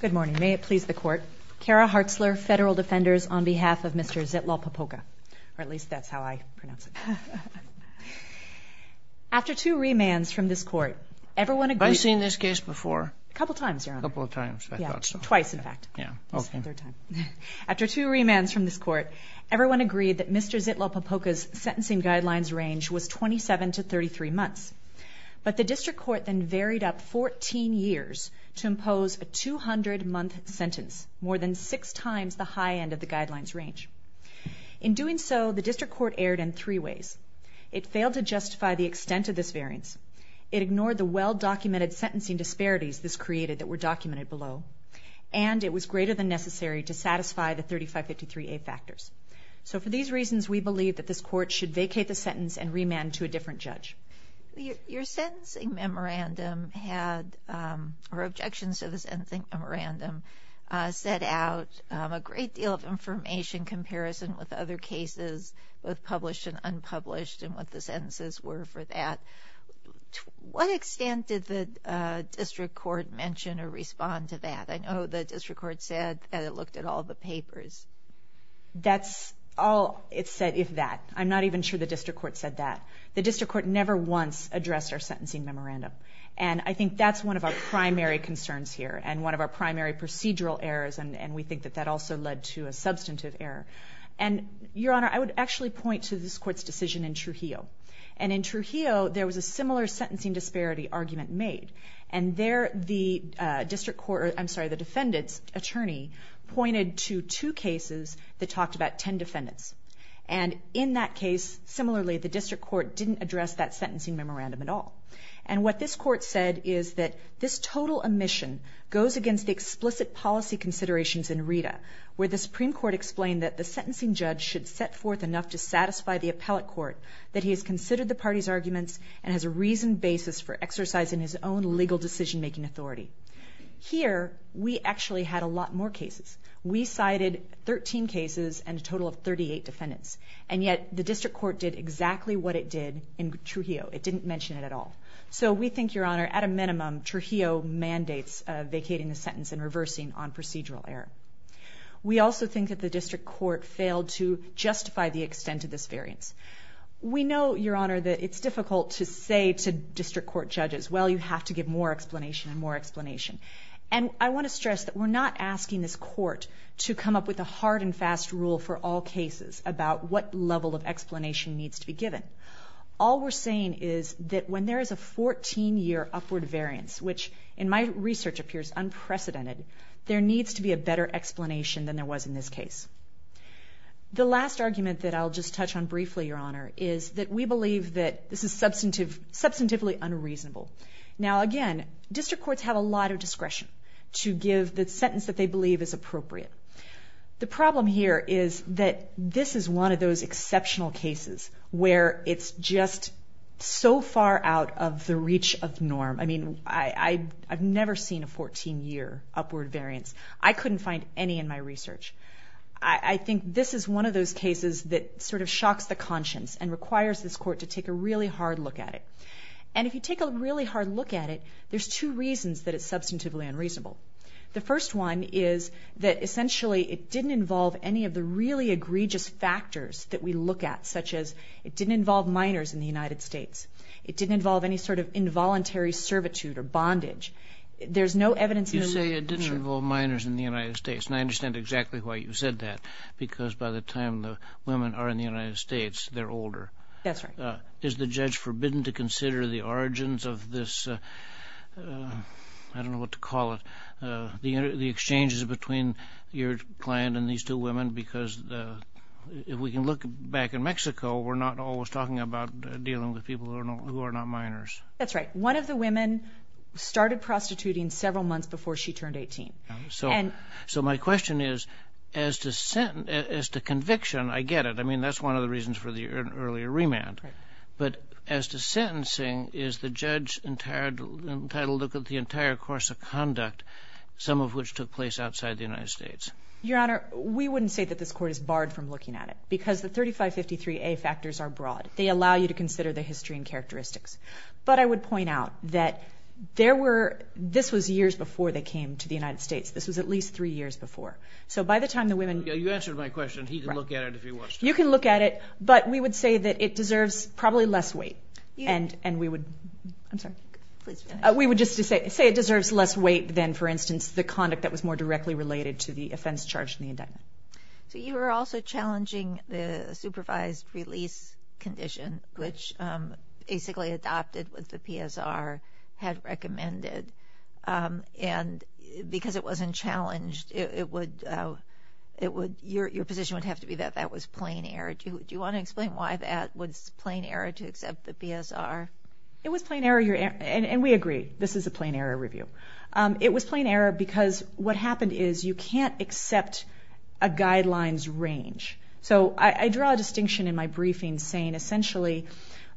Good morning. May it please the Court. Kara Hartzler, Federal Defenders, on behalf of Mr. Zitlalpopoca. Or at least that's how I pronounce it. After two remands from this Court, everyone agreed... I've seen this case before. A couple times, Your Honor. A couple of times. I thought so. Twice, in fact. Yeah. Okay. After two remands from this Court, everyone agreed that Mr. Zitlalpopoca's sentencing guidelines range was 27 to 33 months. But the District Court then varied up 14 years to impose a 200-month sentence, more than six times the high end of the guidelines range. In doing so, the District Court erred in three ways. It failed to justify the extent of this variance. It ignored the well-documented sentencing disparities this created that were documented below. And it was greater than necessary to satisfy the 3553A factors. So for these reasons, we believe that this Court should vacate the sentence and remand to a different judge. Your sentencing memorandum had... or objections to the sentencing memorandum set out a great deal of information in comparison with other cases, both published and unpublished, and what the sentences were for that. To what extent did the District Court mention or respond to that? I know the District Court said that it looked at all the papers. That's all it said, if that. I'm not even sure the District Court said that. The District Court never once addressed our sentencing memorandum. And I think that's one of our primary concerns here and one of our primary procedural errors, and we think that that also led to a substantive error. And, Your Honor, I would actually point to this Court's decision in Trujillo. And in Trujillo, there was a similar sentencing disparity argument made. And there, the District Court... I'm sorry, the defendant's attorney pointed to two cases that talked about ten defendants. And in that case, similarly, the District Court didn't address that sentencing memorandum at all. And what this Court said is that this total omission goes against the explicit policy considerations in RITA, where the Supreme Court explained that the sentencing judge should set forth enough to satisfy the appellate court that he has considered the party's arguments and has a reasoned basis for exercising his own legal decision-making authority. Here, we actually had a lot more cases. We cited 13 cases and a total of 38 defendants. And yet, the District Court did exactly what it did in Trujillo. It didn't mention it at all. So we think, Your Honor, at a minimum, Trujillo mandates vacating the sentence and reversing on procedural error. We also think that the District Court failed to justify the extent of this variance. We know, Your Honor, that it's difficult to say to District Court judges, well, you have to give more explanation and more explanation. And I want to stress that we're not asking this Court to come up with a hard and fast rule for all cases about what level of explanation needs to be given. All we're saying is that when there is a 14-year upward variance, which in my research appears unprecedented, there needs to be a better explanation than there was in this case. The last argument that I'll just touch on briefly, Your Honor, is that we believe that this is substantively unreasonable. Now, again, District Courts have a lot of discretion to give the sentence that they believe is appropriate. The problem here is that this is one of those exceptional cases where it's just so far out of the reach of norm. I mean, I've never seen a 14-year upward variance. I couldn't find any in my research. I think this is one of those cases that sort of shocks the conscience and requires this Court to take a really hard look at it. And if you take a really hard look at it, there's two reasons that it's substantively unreasonable. The first one is that essentially it didn't involve any of the really egregious factors that we look at, such as it didn't involve minors in the United States. It didn't involve any sort of involuntary servitude or bondage. There's no evidence in the law. You say it didn't involve minors in the United States, and I understand exactly why you said that, because by the time the women are in the United States, they're older. That's right. Is the judge forbidden to consider the origins of this, I don't know what to call it, the exchanges between your client and these two women? Because if we can look back in Mexico, we're not always talking about dealing with people who are not minors. That's right. One of the women started prostituting several months before she turned 18. So my question is, as to conviction, I get it. I mean, that's one of the reasons for the earlier remand. But as to sentencing, is the judge entitled to look at the entire course of conduct, some of which took place outside the United States? Your Honor, we wouldn't say that this Court is barred from looking at it because the 3553A factors are broad. They allow you to consider the history and characteristics. But I would point out that this was years before they came to the United States. This was at least three years before. You answered my question. He can look at it if he wants to. You can look at it. But we would say that it deserves probably less weight. And we would just say it deserves less weight than, for instance, the conduct that was more directly related to the offense charged in the indictment. So you were also challenging the supervised release condition, which basically adopted what the PSR had recommended. And because it wasn't challenged, your position would have to be that that was plain error. Do you want to explain why that was plain error to accept the PSR? It was plain error. And we agree, this is a plain error review. It was plain error because what happened is you can't accept a guidelines range. So I draw a distinction in my briefing saying essentially,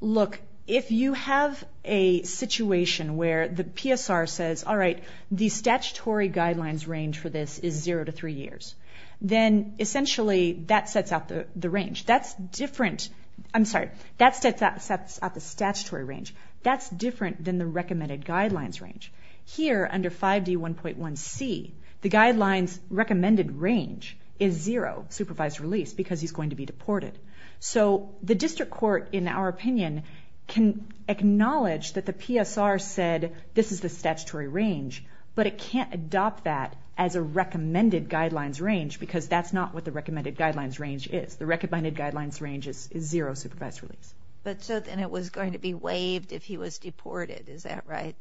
look, if you have a situation where the PSR says, all right, the statutory guidelines range for this is zero to three years, then essentially that sets out the range. That's different. I'm sorry, that sets out the statutory range. That's different than the recommended guidelines range. Here, under 5D1.1c, the guidelines recommended range is zero, supervised release, because he's going to be deported. So the district court, in our opinion, can acknowledge that the PSR said this is the statutory range, but it can't adopt that as a recommended guidelines range because that's not what the recommended guidelines range is. The recommended guidelines range is zero supervised release. But so then it was going to be waived if he was deported. Is that right?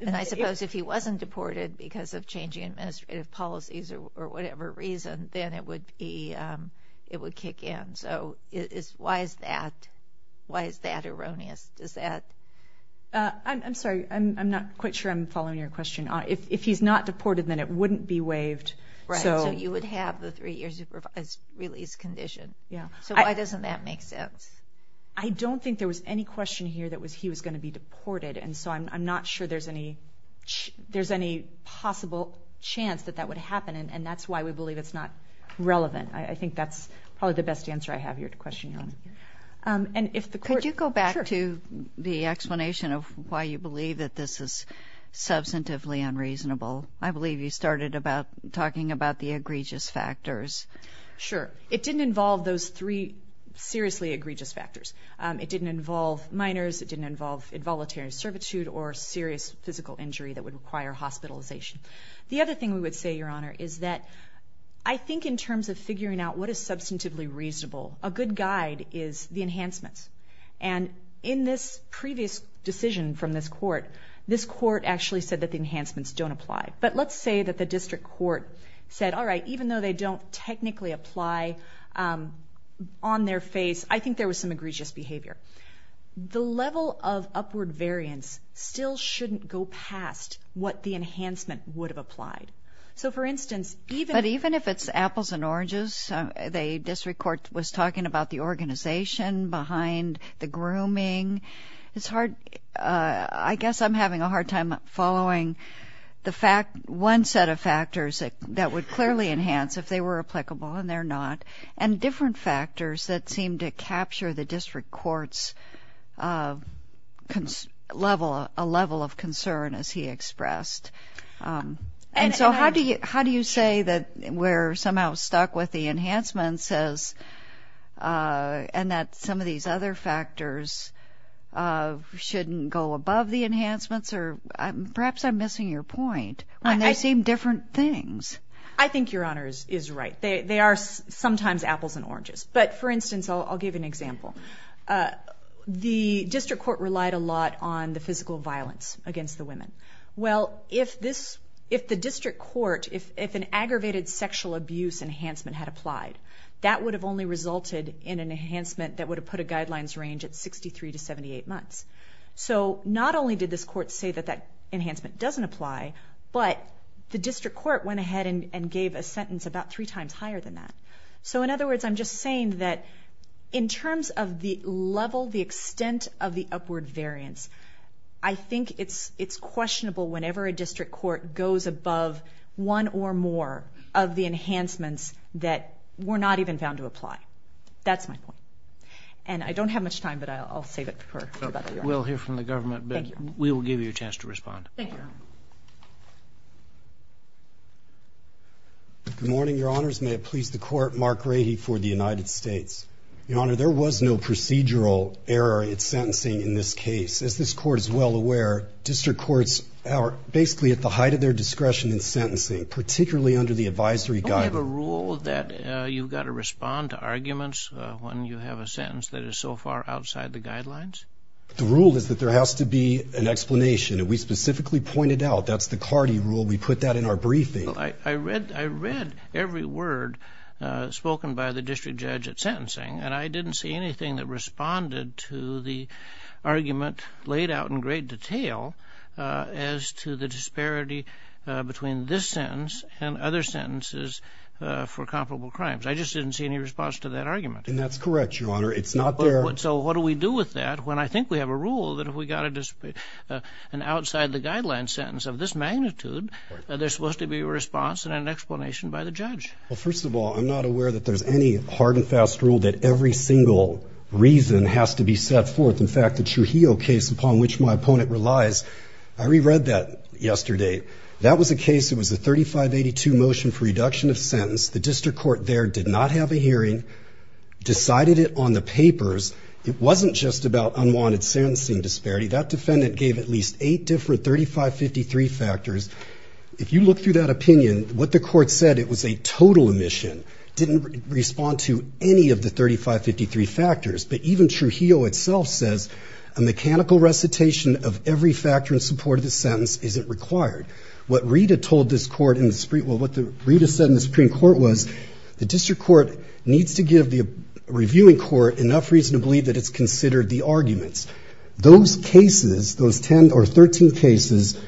And I suppose if he wasn't deported because of changing administrative policies or whatever reason, then it would kick in. So why is that erroneous? I'm sorry, I'm not quite sure I'm following your question. If he's not deported, then it wouldn't be waived. Right, so you would have the three-year supervised release condition. So why doesn't that make sense? I don't think there was any question here that he was going to be deported, and so I'm not sure there's any possible chance that that would happen, and that's why we believe it's not relevant. I think that's probably the best answer I have here to question you on it. Could you go back to the explanation of why you believe that this is substantively unreasonable? I believe you started talking about the egregious factors. Sure. It didn't involve those three seriously egregious factors. It didn't involve minors. It didn't involve involuntary servitude or serious physical injury that would require hospitalization. The other thing we would say, Your Honor, is that I think in terms of figuring out what is substantively reasonable, a good guide is the enhancements. And in this previous decision from this court, this court actually said that the enhancements don't apply. But let's say that the district court said, all right, even though they don't technically apply on their face, I think there was some egregious behavior. The level of upward variance still shouldn't go past what the enhancement would have applied. So, for instance, even if it's apples and oranges, the district court was talking about the organization behind the grooming. I guess I'm having a hard time following one set of factors that would clearly enhance if they were applicable, and they're not, and different factors that seem to capture the district court's level of concern, as he expressed. And so how do you say that we're somehow stuck with the enhancements and that some of these other factors shouldn't go above the enhancements? Or perhaps I'm missing your point when they seem different things. I think Your Honor is right. They are sometimes apples and oranges. But, for instance, I'll give an example. The district court relied a lot on the physical violence against the women. Well, if the district court, if an aggravated sexual abuse enhancement had applied, that would have only resulted in an enhancement that would have put a guidelines range at 63 to 78 months. So not only did this court say that that enhancement doesn't apply, but the district court went ahead and gave a sentence about three times higher than that. So, in other words, I'm just saying that in terms of the level, the extent of the upward variance, I think it's questionable whenever a district court goes above one or more of the enhancements that were not even found to apply. That's my point. And I don't have much time, but I'll save it for later. We'll hear from the government, but we will give you a chance to respond. Thank you, Your Honor. Good morning, Your Honors. May it please the Court, Mark Rahe for the United States. Your Honor, there was no procedural error in sentencing in this case. As this Court is well aware, district courts are basically at the height of their discretion in sentencing, particularly under the advisory guidance. Don't we have a rule that you've got to respond to arguments when you have a sentence that is so far outside the guidelines? The rule is that there has to be an explanation. And we specifically pointed out that's the CARDI rule. We put that in our briefing. I read every word spoken by the district judge at sentencing, and I didn't see anything that responded to the argument laid out in great detail as to the disparity between this sentence and other sentences for comparable crimes. I just didn't see any response to that argument. And that's correct, Your Honor. It's not there. So what do we do with that when I think we have a rule that if we've got an outside-the-guidelines sentence of this magnitude, there's supposed to be a response and an explanation by the judge? Well, first of all, I'm not aware that there's any hard and fast rule that every single reason has to be set forth. In fact, the Trujillo case, upon which my opponent relies, I reread that yesterday. That was a case that was a 3582 motion for reduction of sentence. The district court there did not have a hearing, decided it on the papers. It wasn't just about unwanted sentencing disparity. That defendant gave at least eight different 3553 factors. If you look through that opinion, what the court said, it was a total omission. It didn't respond to any of the 3553 factors. But even Trujillo itself says, a mechanical recitation of every factor in support of the sentence isn't required. What Rita said in the Supreme Court was, the district court needs to give the reviewing court enough reason to believe that it's considered the arguments. Those cases, those 10 or 13 cases,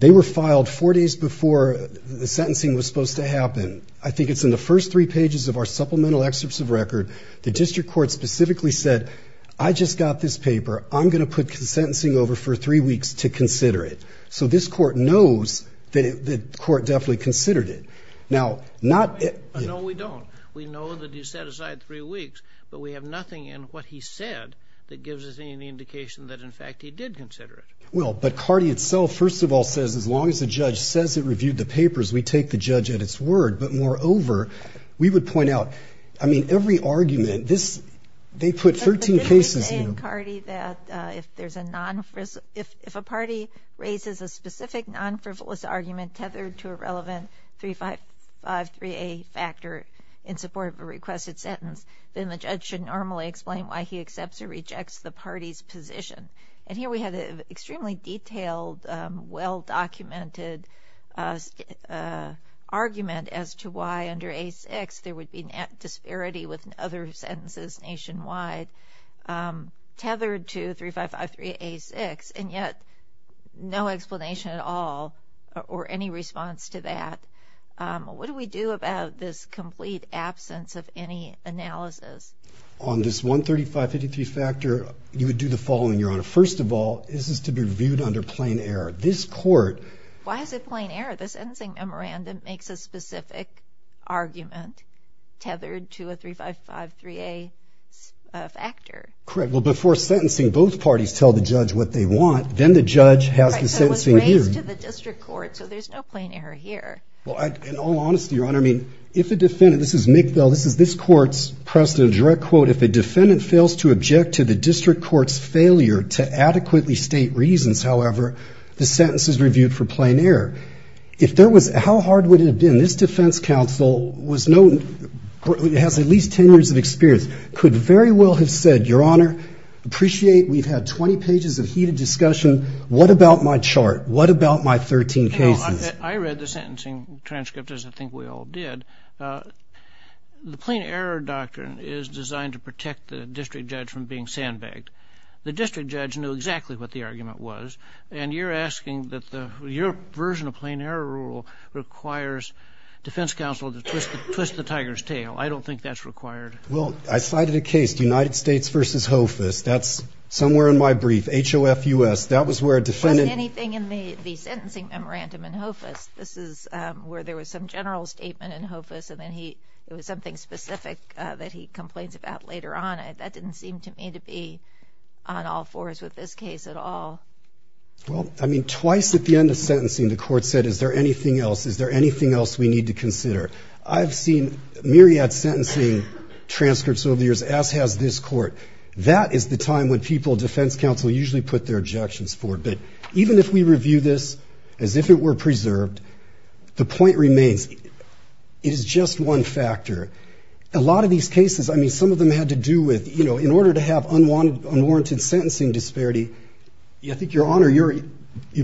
they were filed four days before the sentencing was supposed to happen. I think it's in the first three pages of our supplemental excerpts of record. The district court specifically said, I just got this paper. I'm going to put sentencing over for three weeks to consider it. So this court knows that the court definitely considered it. No, we don't. We know that he set aside three weeks, but we have nothing in what he said that gives us any indication that, in fact, he did consider it. Well, but Cardi itself, first of all, says, as long as the judge says it reviewed the papers, we take the judge at its word. But moreover, we would point out, I mean, every argument, they put 13 cases in. But didn't they say in Cardi that if a party raises a specific non-frivolous argument tethered to a relevant 3553A factor in support of a requested sentence, then the judge should normally explain why he accepts or rejects the party's position. And here we had an extremely detailed, well-documented argument as to why, under A6, there would be disparity with other sentences nationwide tethered to or any response to that. What do we do about this complete absence of any analysis? On this 13553 factor, you would do the following, Your Honor. First of all, this is to be reviewed under plain error. This court… Why is it plain error? The sentencing memorandum makes a specific argument tethered to a 3553A factor. Correct. Well, before sentencing, both parties tell the judge what they want. Then the judge has the sentencing here. It's raised to the district court, so there's no plain error here. Well, in all honesty, Your Honor, I mean, if a defendant… This is McVille. This is this court's precedent. A direct quote, if a defendant fails to object to the district court's failure to adequately state reasons, however, the sentence is reviewed for plain error. If there was… How hard would it have been? This defense counsel has at least 10 years of experience, could very well have said, Your Honor, appreciate. We've had 20 pages of heated discussion. What about my chart? What about my 13 cases? I read the sentencing transcript, as I think we all did. The plain error doctrine is designed to protect the district judge from being sandbagged. The district judge knew exactly what the argument was, and you're asking that your version of plain error rule requires defense counsel to twist the tiger's tail. I don't think that's required. Well, I cited a case, the United States v. Hofus. That's somewhere in my brief. H-O-F-U-S. That was where a defendant… Was anything in the sentencing memorandum in Hofus? This is where there was some general statement in Hofus, and then it was something specific that he complains about later on. That didn't seem to me to be on all fours with this case at all. Well, I mean, twice at the end of sentencing the court said, Is there anything else? Is there anything else we need to consider? I've seen myriad sentencing transcripts over the years, as has this court. That is the time when people, defense counsel, usually put their objections forward. But even if we review this as if it were preserved, the point remains, it is just one factor. A lot of these cases, I mean, some of them had to do with, you know, in order to have unwarranted sentencing disparity, I think, Your Honor, you're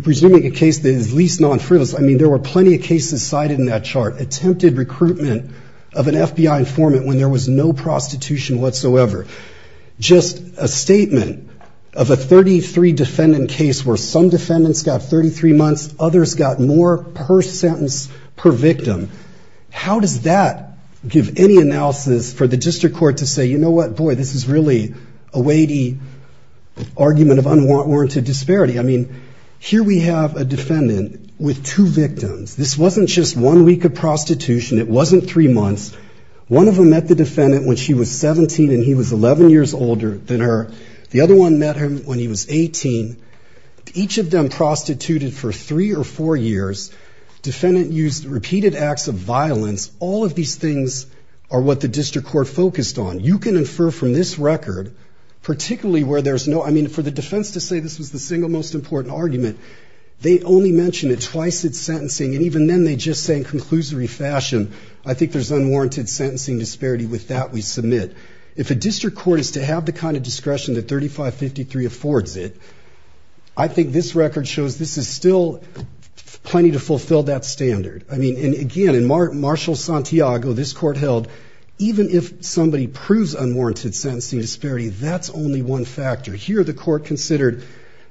presuming a case that is least non-frivolous. I mean, there were plenty of cases cited in that chart. Attempted recruitment of an FBI informant when there was no prostitution whatsoever. Just a statement of a 33-defendant case where some defendants got 33 months, others got more per sentence per victim. How does that give any analysis for the district court to say, You know what? Boy, this is really a weighty argument of unwarranted disparity. I mean, here we have a defendant with two victims. This wasn't just one week of prostitution. It wasn't three months. One of them met the defendant when she was 17 and he was 11 years older than her. The other one met him when he was 18. Each of them prostituted for three or four years. Defendant used repeated acts of violence. All of these things are what the district court focused on. You can infer from this record, particularly where there's no, I mean, for the defense to say this was the single most important argument, they only mentioned it twice in sentencing, and even then they just say in conclusory fashion, I think there's unwarranted sentencing disparity. With that, we submit. If a district court is to have the kind of discretion that 3553 affords it, I think this record shows this is still plenty to fulfill that standard. I mean, again, in Marshall-Santiago, this court held, even if somebody proves unwarranted sentencing disparity, that's only one factor. Here, the court considered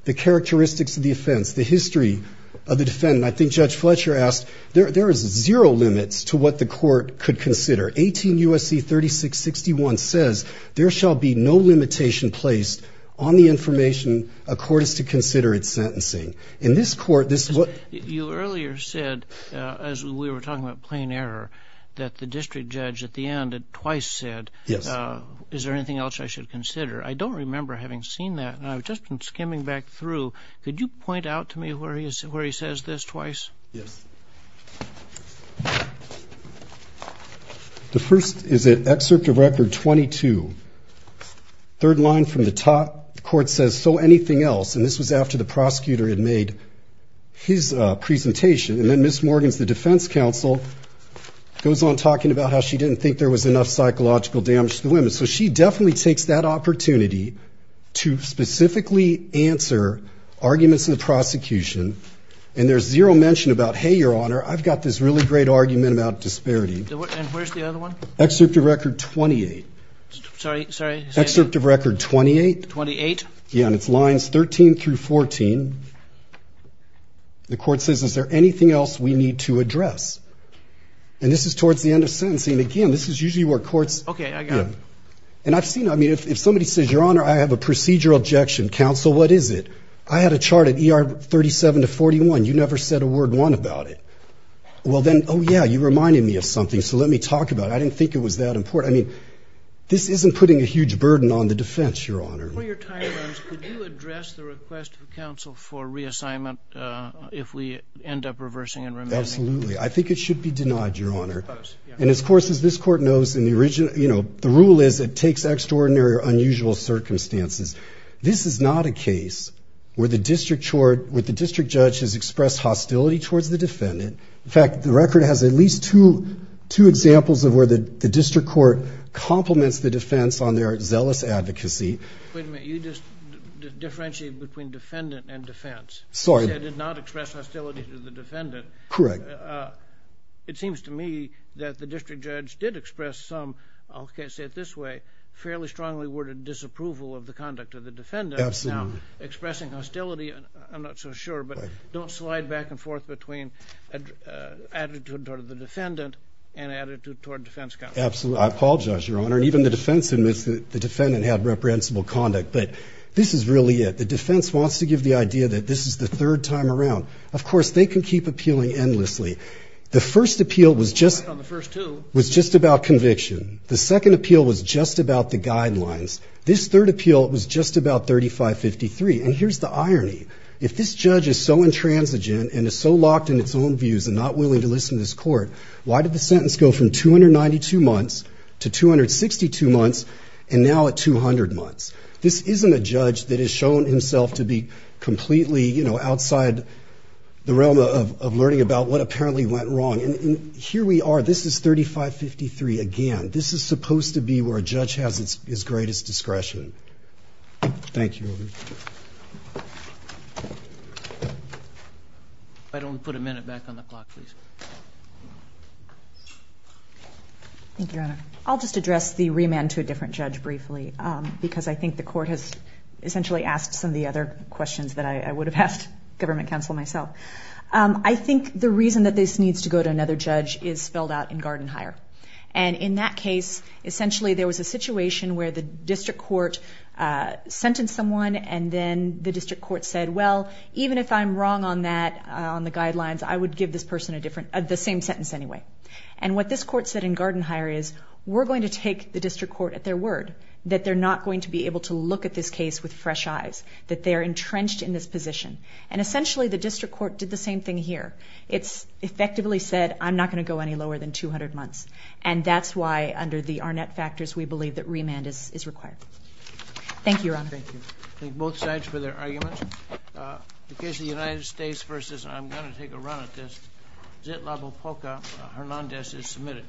the characteristics of the offense, the history of the defendant. I think Judge Fletcher asked, there is zero limits to what the court could consider. 18 U.S.C. 3661 says, there shall be no limitation placed on the information a court is to consider in sentencing. In this court, this is what- You earlier said, as we were talking about plain error, that the district judge at the end twice said, is there anything else I should consider? I don't remember having seen that. I've just been skimming back through. Could you point out to me where he says this twice? Yes. The first is at Excerpt of Record 22. Third line from the top, the court says, so anything else? And this was after the prosecutor had made his presentation. And then Ms. Morgans, the defense counsel, so she definitely takes that opportunity to specifically answer arguments in the prosecution. And there's zero mention about, hey, Your Honor, I've got this really great argument about disparity. And where's the other one? Excerpt of Record 28. Sorry, sorry. Excerpt of Record 28. 28? Yeah, and it's lines 13 through 14. The court says, is there anything else we need to address? And this is towards the end of sentencing. Again, this is usually where courts- And I've seen, I mean, if somebody says, Your Honor, I have a procedural objection. Counsel, what is it? I had a chart at ER 37 to 41. You never said a word, one, about it. Well, then, oh, yeah, you reminded me of something, so let me talk about it. I didn't think it was that important. I mean, this isn't putting a huge burden on the defense, Your Honor. Before your time runs, could you address the request of counsel for reassignment if we end up reversing and remanding? Absolutely. I think it should be denied, Your Honor. And, of course, as this court knows, in the original, you know, the rule is it takes extraordinary or unusual circumstances. This is not a case where the district judge has expressed hostility towards the defendant. In fact, the record has at least two examples of where the district court compliments the defense on their zealous advocacy. Wait a minute. You just differentiated between defendant and defense. Sorry. You said it did not express hostility to the defendant. Correct. It seems to me that the district judge did express some, I'll say it this way, fairly strongly worded disapproval of the conduct of the defendant. Absolutely. Now, expressing hostility, I'm not so sure, but don't slide back and forth between attitude toward the defendant and attitude toward defense counsel. Absolutely. I apologize, Your Honor. And even the defense admits that the defendant had reprehensible conduct. But this is really it. The defense wants to give the idea that this is the third time around. Of course, they can keep appealing endlessly. The first appeal was just about conviction. The second appeal was just about the guidelines. This third appeal was just about 3553. And here's the irony. If this judge is so intransigent and is so locked in its own views and not willing to listen to this court, why did the sentence go from 292 months to 262 months and now at 200 months? This isn't a judge that has shown himself to be completely, you know, outside the realm of learning about what apparently went wrong. And here we are. This is 3553 again. This is supposed to be where a judge has his greatest discretion. Thank you. If I don't put a minute back on the clock, please. Thank you, Your Honor. I'll just address the remand to a different judge briefly because I think the court has essentially asked some of the other questions that I would have asked government counsel myself. I think the reason that this needs to go to another judge is spelled out in Garden Hire. And in that case, essentially there was a situation where the district court sentenced someone and then the district court said, well, even if I'm wrong on that, on the guidelines, I would give this person the same sentence anyway. And what this court said in Garden Hire is we're going to take the district court at their word that they're not going to be able to look at this case with fresh eyes, that they are entrenched in this position. And essentially the district court did the same thing here. It's effectively said I'm not going to go any lower than 200 months. And that's why under the Arnett factors we believe that remand is required. Thank you, Your Honor. Thank you. Thank both sides for their arguments. The case of the United States v. I'm going to take a run at this. Zitlabopoca, Hernandez is submitted.